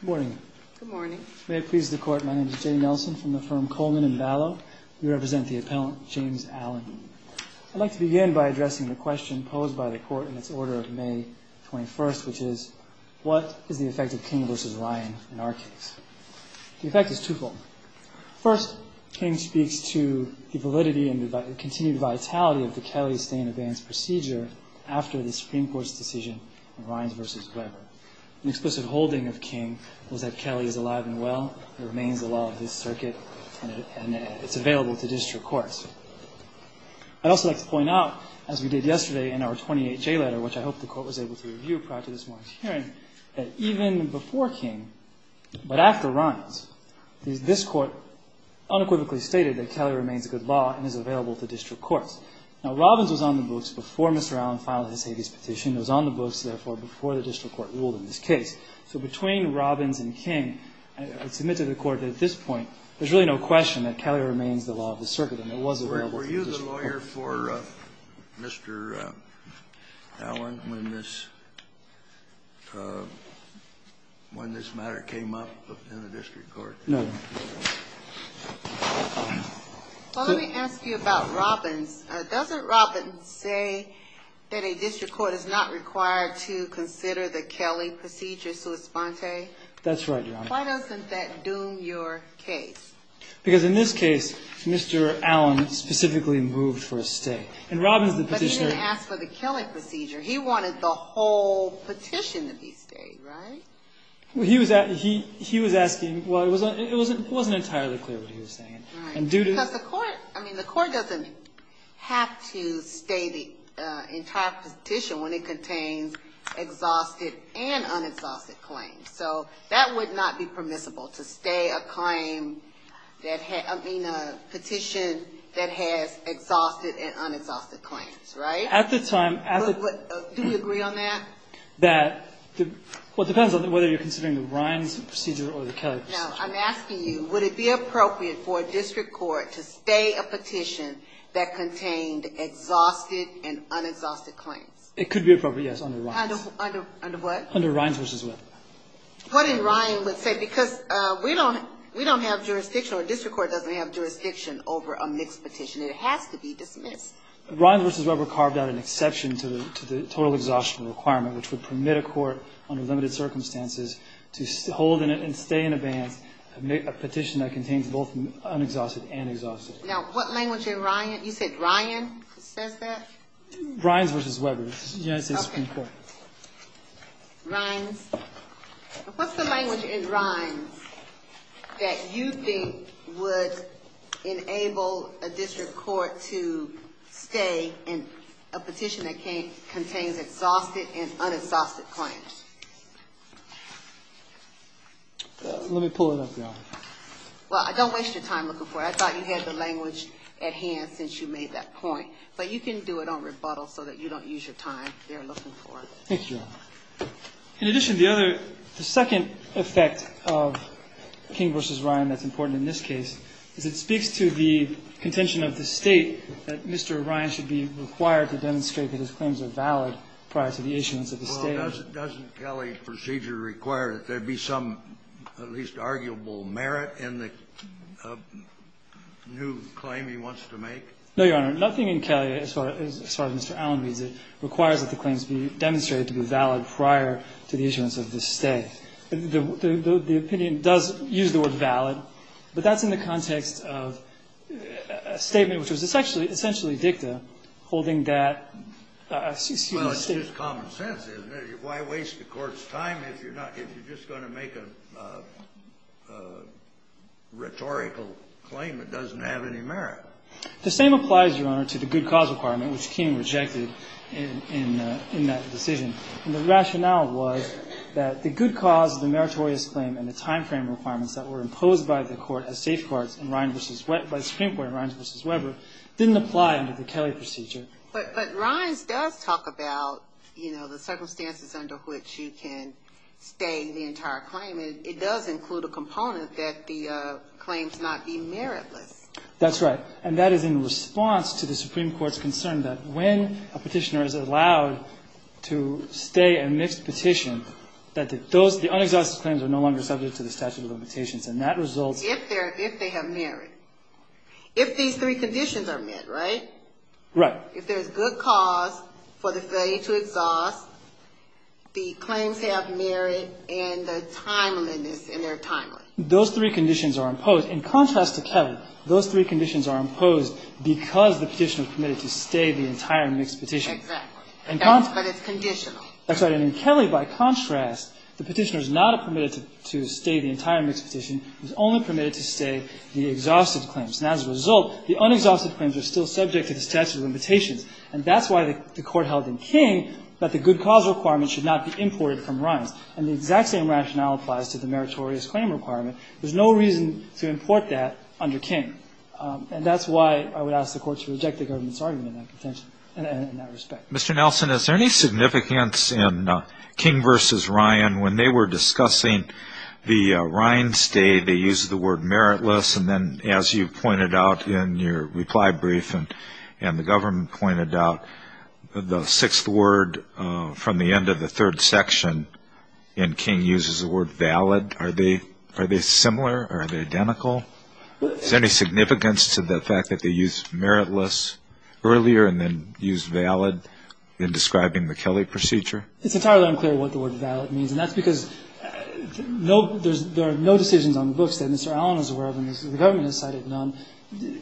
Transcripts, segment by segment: Good morning. Good morning. May it please the Court, my name is Jay Nelson from the firm Coleman & Ballot. We represent the appellant, James Allen. I'd like to begin by addressing the question posed by the Court in its order of May 21st, which is what is the effect of King v. Ryan in our case? The effect is twofold. First, King speaks to the validity and continued vitality of the Kelly stay-in-advance procedure after the Supreme Court's decision in Ryan v. Weber. An explicit holding of King was that Kelly is alive and well, it remains the law of his circuit, and it's available to district courts. I'd also like to point out, as we did yesterday in our 28J letter, which I hope the Court was able to review prior to this morning's hearing, that even before King, but after Ryan's, this Court unequivocally stated that Kelly remains a good law and is available to district courts. Now, Robbins was on the books before Mr. Allen filed his habeas petition, was on the books, therefore, before the district court ruled in this case. So between Robbins and King, I submit to the Court that at this point there's really no question that Kelly remains the law of the circuit and it was available to district courts. Kennedy, were you the lawyer for Mr. Allen when this matter came up in the district court? No, no. Well, let me ask you about Robbins. Doesn't Robbins say that a district court is not required to consider the Kelly procedure sua sponte? That's right, Your Honor. Why doesn't that doom your case? Because in this case, Mr. Allen specifically moved for a stay. But he didn't ask for the Kelly procedure. He wanted the whole petition to be stayed, right? He was asking, well, it wasn't entirely clear what he was saying. Right. Because the court doesn't have to stay the entire petition when it contains exhausted and unexhausted claims. So that would not be permissible, to stay a petition that has exhausted and unexhausted claims, right? Do we agree on that? Well, it depends on whether you're considering the Robbins procedure or the Kelly procedure. No. I'm asking you, would it be appropriate for a district court to stay a petition that contained exhausted and unexhausted claims? It could be appropriate, yes, under Ryan's. Under what? Under Ryan's v. Weber. What in Ryan would say? Because we don't have jurisdiction, or a district court doesn't have jurisdiction over a mixed petition. It has to be dismissed. Ryan v. Weber carved out an exception to the total exhaustion requirement, which would permit a court under limited circumstances to hold and stay in a petition that contains both unexhausted and exhausted. Now, what language in Ryan? You said Ryan says that? Ryan's v. Weber, United States Supreme Court. Okay. Ryan's. What's the language in Ryan's that you think would enable a district court to stay in a petition that contains exhausted and unexhausted claims? Let me pull it up, Your Honor. Well, I don't waste your time looking for it. I thought you had the language at hand since you made that point. But you can do it on rebuttal so that you don't use your time there looking for it. Thank you, Your Honor. In addition, the other, the second effect of King v. Ryan that's important in this case is it speaks to the contention of the State that Mr. Ryan should be required to demonstrate that his claims are valid prior to the issuance of the State. Doesn't Kelley's procedure require that there be some at least arguable merit in the new claim he wants to make? No, Your Honor. Nothing in Kelley, as far as Mr. Allen reads it, requires that the claims be demonstrated to be valid prior to the issuance of the State. The opinion does use the word valid, but that's in the context of a statement which was essentially dicta holding that, excuse me, State. That's just common sense, isn't it? Why waste the Court's time if you're not, if you're just going to make a rhetorical claim that doesn't have any merit? The same applies, Your Honor, to the good cause requirement, which King rejected in that decision. And the rationale was that the good cause of the meritorious claim and the timeframe requirements that were imposed by the Court as safeguards in Ryan v. Webber, by the Supreme Court in Ryan v. Webber, didn't apply under the Kelley procedure. But Ryan's does talk about, you know, the circumstances under which you can stay the entire claim. It does include a component that the claims not be meritless. That's right. And that is in response to the Supreme Court's concern that when a petitioner is allowed to stay a mixed petition, that the unexhausted claims are no longer subject to the statute of limitations. And that results... If they're, if they have merit. If these three conditions are met, right? Right. If there's good cause for the failure to exhaust, the claims have merit and the timeliness, and they're timely. Those three conditions are imposed. In contrast to Kelley, those three conditions are imposed because the petitioner is permitted to stay the entire mixed petition. Exactly. But it's conditional. That's right. And in Kelley, by contrast, the petitioner is not permitted to stay the entire mixed petition. He's only permitted to stay the exhausted claims. And as a result, the unexhausted claims are still subject to the statute of limitations. And that's why the Court held in King that the good cause requirement should not be imported from Ryan's. And the exact same rationale applies to the meritorious claim requirement. There's no reason to import that under King. And that's why I would ask the Court to reject the government's argument in that contention, in that respect. Mr. Nelson, is there any significance in King v. Ryan, when they were discussing the Ryan stay, they used the word meritless, and then as you pointed out in your reply brief and the government pointed out, the sixth word from the end of the third section in King uses the word valid. Are they similar? Are they identical? Is there any significance to the fact that they used meritless earlier and then used valid in describing the Kelley procedure? It's entirely unclear what the word valid means. And that's because there are no decisions on the books that Mr. Allen is aware of, and the government has cited none,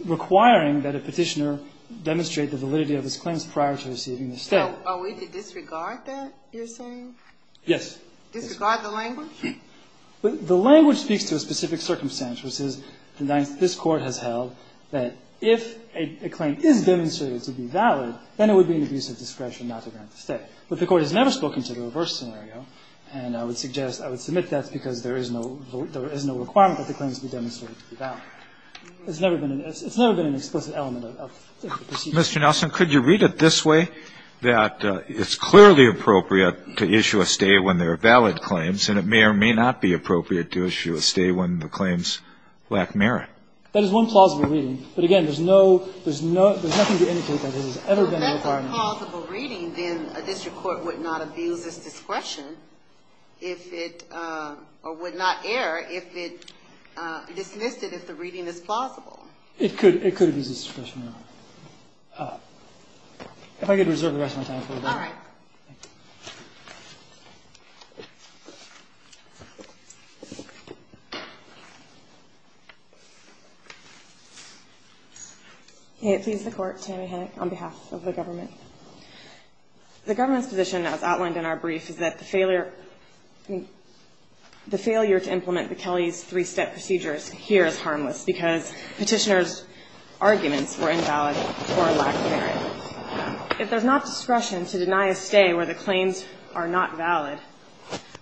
requiring that a petitioner demonstrate the validity of his claims prior to receiving the stay. So are we to disregard that, you're saying? Yes. Disregard the language? The language speaks to a specific circumstance, which is that this Court has held that if a claim is demonstrated to be valid, then it would be an abuse of discretion not to grant the stay. But the Court has never spoken to the reverse scenario, and I would suggest I would submit that's because there is no requirement that the claims be demonstrated to be valid. It's never been an explicit element of the procedure. Mr. Nelson, could you read it this way, that it's clearly appropriate to issue a stay when there are valid claims, and it may or may not be appropriate to issue a stay when the claims lack merit? That is one plausible reading. But again, there's no – there's nothing to indicate that this has ever been a requirement. If it's a plausible reading, then a district court would not abuse its discretion if it – or would not err if it dismissed it if the reading is plausible. It could abuse its discretion. If I could reserve the rest of my time for that. All right. Thank you. May it please the Court, Tammy Hennick on behalf of the government. The government's position, as outlined in our brief, is that the failure – I mean, the failure to implement McKelley's three-step procedures here is harmless because Petitioner's arguments were invalid or lack merit. If there's not discretion to deny a stay where the claims are not valid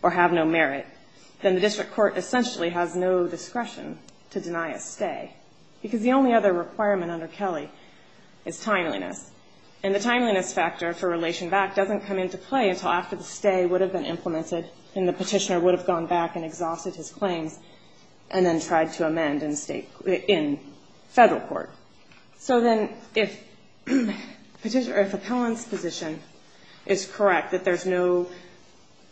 or have no merit, then the district court essentially has no discretion to deny a stay, because the only other requirement under Kelley is timeliness. And the timeliness factor for Relation Back doesn't come into play until after the stay would have been implemented and the Petitioner would have gone back and exhausted his claims and then tried to amend in State – in Federal court. So then if Petitioner – or if Appellant's position is correct, that there's no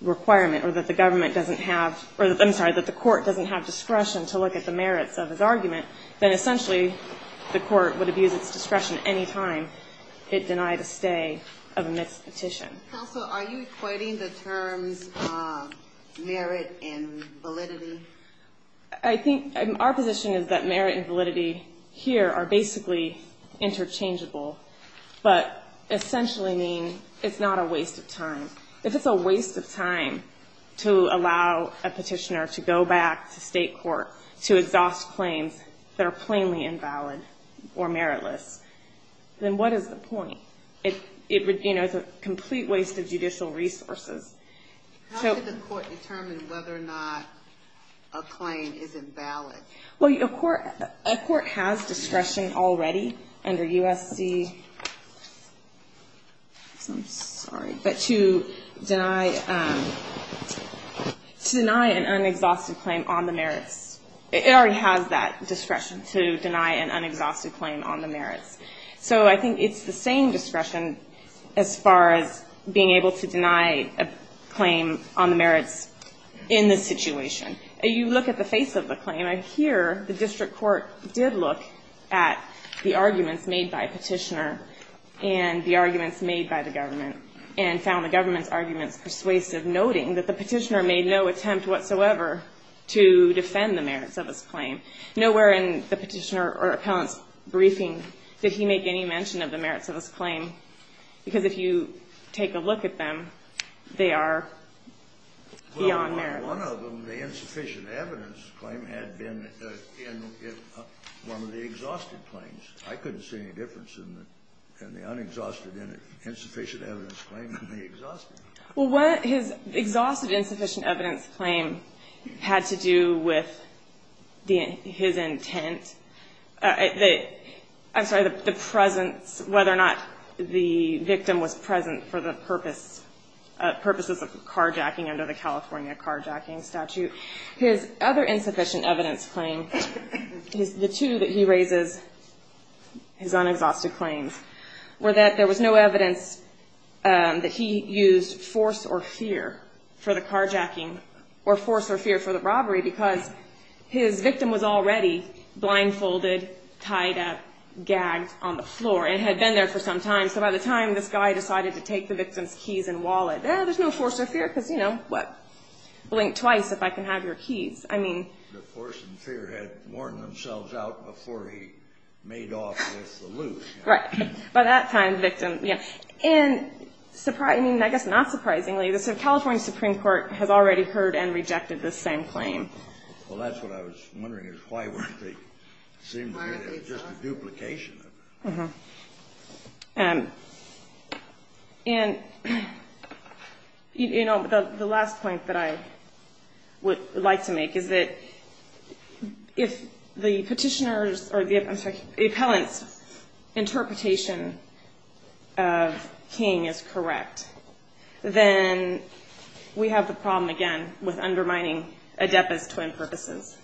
requirement or that the government doesn't have – or I'm sorry, that the court doesn't have discretion to look at the merits of his argument, then essentially the court would abuse its discretion any time it denied a stay amidst Petition. Counsel, are you equating the terms merit and validity? I think – our position is that merit and validity here are basically interchangeable, but essentially mean it's not a waste of time. If it's a waste of time to allow a Petitioner to go back to State court to exhaust claims that are plainly invalid or meritless, then what is the point? It would – you know, it's a complete waste of judicial resources. How did the court determine whether or not a claim is invalid? Well, a court – a court has discretion already under USC – I'm sorry – but to deny – to deny an unexhausted claim on the merits. It already has that discretion to deny an unexhausted claim on the merits. So I think it's the same discretion as far as being able to deny a claim on the merits in this situation. You look at the face of the claim. I hear the district court did look at the arguments made by Petitioner and the arguments made by the government and found the government's arguments persuasive, noting that the Petitioner made no attempt whatsoever to defend the merits of his claim. Nowhere in the Petitioner or Appellant's briefing did he make any mention of the merits of his claim, because if you take a look at them, they are beyond merits. Well, on one of them, the insufficient evidence claim had been in one of the exhausted claims. I couldn't see any difference in the unexhausted insufficient evidence claim than the exhausted. Well, what his exhausted insufficient evidence claim had to do with the – his intent – I'm sorry, the presence, whether or not the victim was present for the purpose – purposes of carjacking under the California carjacking statute. His other insufficient evidence claim, the two that he raises, his unexhausted claims, were that there was no evidence that he used force or fear for the carjacking or force or fear for the robbery, because his victim was already blindfolded, tied up, gagged on the floor, and had been there for some time. So by the time this guy decided to take the victim's keys and wallet, there's no force or fear, because, you know, what? Blink twice if I can have your keys. I mean – The force and fear had worn themselves out before he made off with the loot. Right. By that time, the victim – yeah. And, I mean, I guess not surprisingly, the California Supreme Court has already heard and rejected this same claim. Well, that's what I was wondering, is why wouldn't they seem to be just a duplication of it? Mm-hmm. And, you know, the last point that I would like to make is that if the petitioner's or the – I'm sorry – the appellant's interpretation of King is correct, then we have the problem, again, with undermining ADEPA's twin purposes,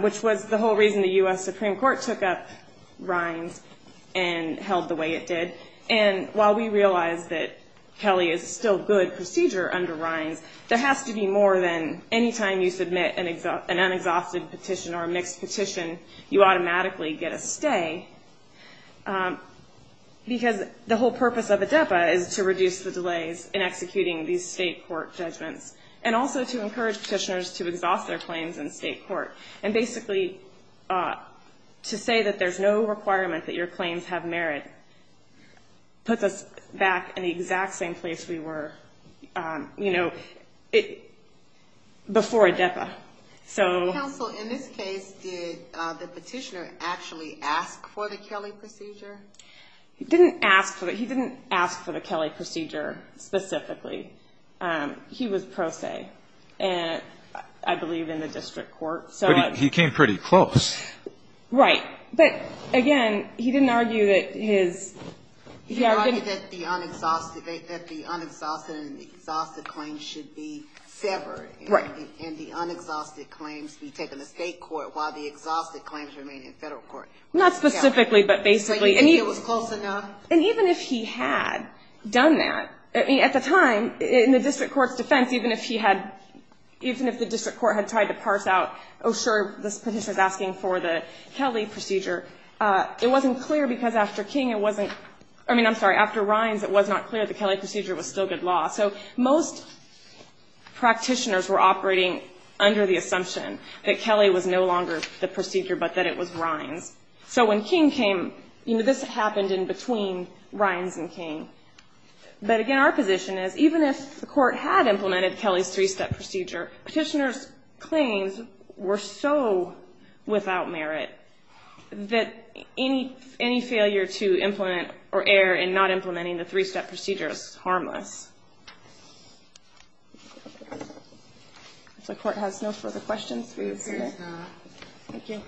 which was the whole reason the U.S. Supreme Court took up Rines and held the way it did. And while we realize that Kelly is still good procedure under Rines, there has to be more than any time you submit an unexhausted petition or a mixed petition, you automatically get a stay, because the whole purpose of ADEPA is to reduce the delays in executing these state court judgments, and also to encourage petitioners to exhaust their claims in state court. And basically, to say that there's no requirement that your claims have merit puts us back in the exact same place we were, you know, before ADEPA. So… Counsel, in this case, did the petitioner actually ask for the Kelly procedure? He didn't ask for it. He didn't ask for the Kelly procedure specifically. He was pro se, I believe, in the district court. But he came pretty close. Right. But, again, he didn't argue that his… He argued that the unexhausted and the exhausted claims should be severed. Right. And the unexhausted claims be taken to state court while the exhausted claims remain in federal court. Not specifically, but basically. So you think it was close enough? And even if he had done that, I mean, at the time, in the district court's defense, even if he had, even if the district court had tried to parse out, oh, sure, this petitioner is asking for the Kelly procedure, it wasn't clear because after King it wasn't, I mean, I'm sorry, after Rines it was not clear the Kelly procedure was still good law. So most practitioners were operating under the assumption that Kelly was no longer the procedure, but that it was Rines. So when King came, you know, this happened in between Rines and King. But, again, our position is even if the court had implemented Kelly's three-step procedure, petitioner's claims were so without merit that any failure to implement or err in not implementing the three-step procedure is harmless. If the court has no further questions, please. Thank you.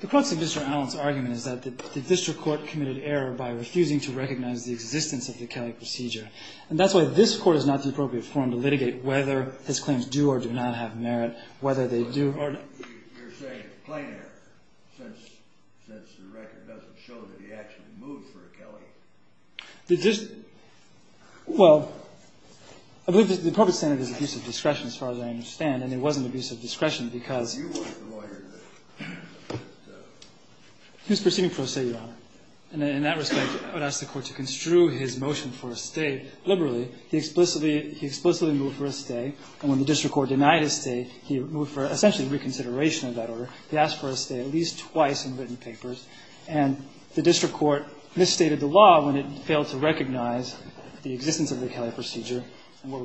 The crux of Mr. Allen's argument is that the district court committed error by refusing to recognize the existence of the Kelly procedure, and that's why this court is not the appropriate forum to litigate whether his claims do or do not have merit, whether they do or not. But you're saying it's plain error since the record doesn't show that he actually moved for a Kelly. Well, I believe the appropriate standard is abuse of discretion as far as I understand, and it wasn't abuse of discretion because he was proceeding for a stay, Your Honor. And in that respect, I would ask the Court to construe his motion for a stay liberally. He explicitly moved for a stay, and when the district court denied his stay, he moved for essentially reconsideration of that order. He asked for a stay at least twice in written papers, and the district court misstated the law when it failed to recognize the existence of the Kelly procedure. And what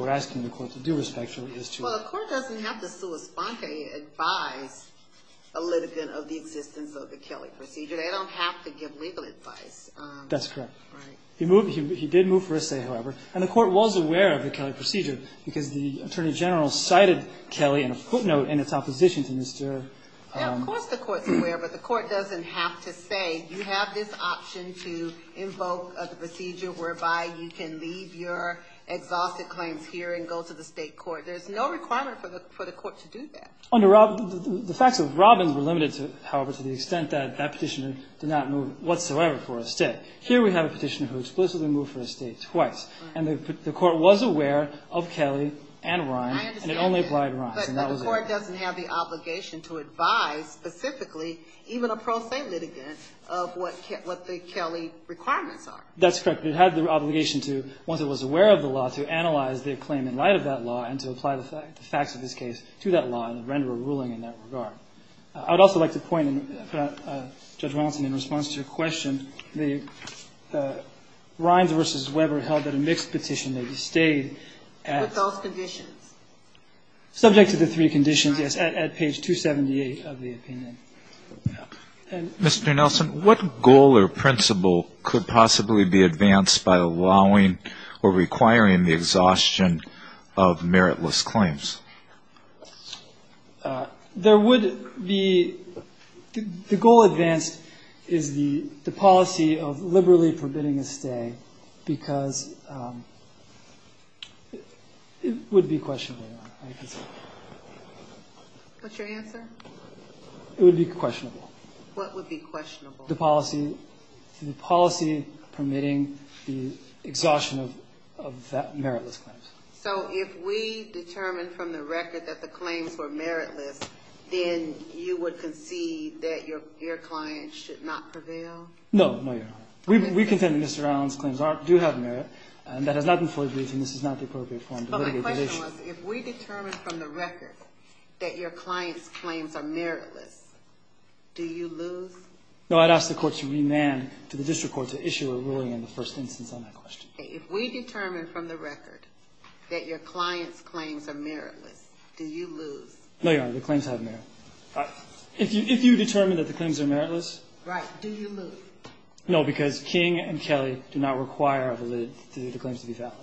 we're asking the Court to do respectfully is to ---- Well, the Court doesn't have to sui sponte advise a litigant of the existence of the Kelly procedure. They don't have to give legal advice. That's correct. Right. He did move for a stay, however, and the Court was aware of the Kelly procedure because the Attorney General cited Kelly in a footnote in its opposition to Mr. ---- Yeah, of course the Court's aware, but the Court doesn't have to say, you have this option to invoke the procedure whereby you can leave your exhausted claims here and go to the state court. There's no requirement for the Court to do that. The facts of Robbins were limited, however, to the extent that that petitioner did not move whatsoever for a stay. Here we have a petitioner who explicitly moved for a stay twice, and the Court was aware of Kelly and Ryan, and it only applied Ryan. But the Court doesn't have the obligation to advise specifically even a pro se litigant of what the Kelly requirements are. That's correct. It had the obligation to, once it was aware of the law, to analyze the claim in light of that law and to apply the facts of this case to that law and render a ruling in that regard. I would also like to point, Judge Watson, in response to your question, that Rynes v. Weber held that a mixed petition may be stayed at ---- With those conditions. Subject to the three conditions, yes, at page 278 of the opinion. Mr. Nelson, what goal or principle could possibly be advanced by allowing or requiring the exhaustion of meritless claims? There would be the goal advanced is the policy of liberally forbidding a stay because it would be questionable. What's your answer? It would be questionable. What would be questionable? The policy permitting the exhaustion of meritless claims. So if we determine from the record that the claims were meritless, then you would concede that your client should not prevail? No. No, Your Honor. We contend that Mr. Allen's claims do have merit. That has not been fully briefed, and this is not the appropriate form to litigate the case. My question was, if we determine from the record that your client's claims are meritless, do you lose? No. I'd ask the court to remand to the district court to issue a ruling in the first instance on that question. If we determine from the record that your client's claims are meritless, do you lose? No, Your Honor. The claims have merit. If you determine that the claims are meritless? Right. Do you lose? No, because King and Kelly do not require a lid to the claims to be valid. All right.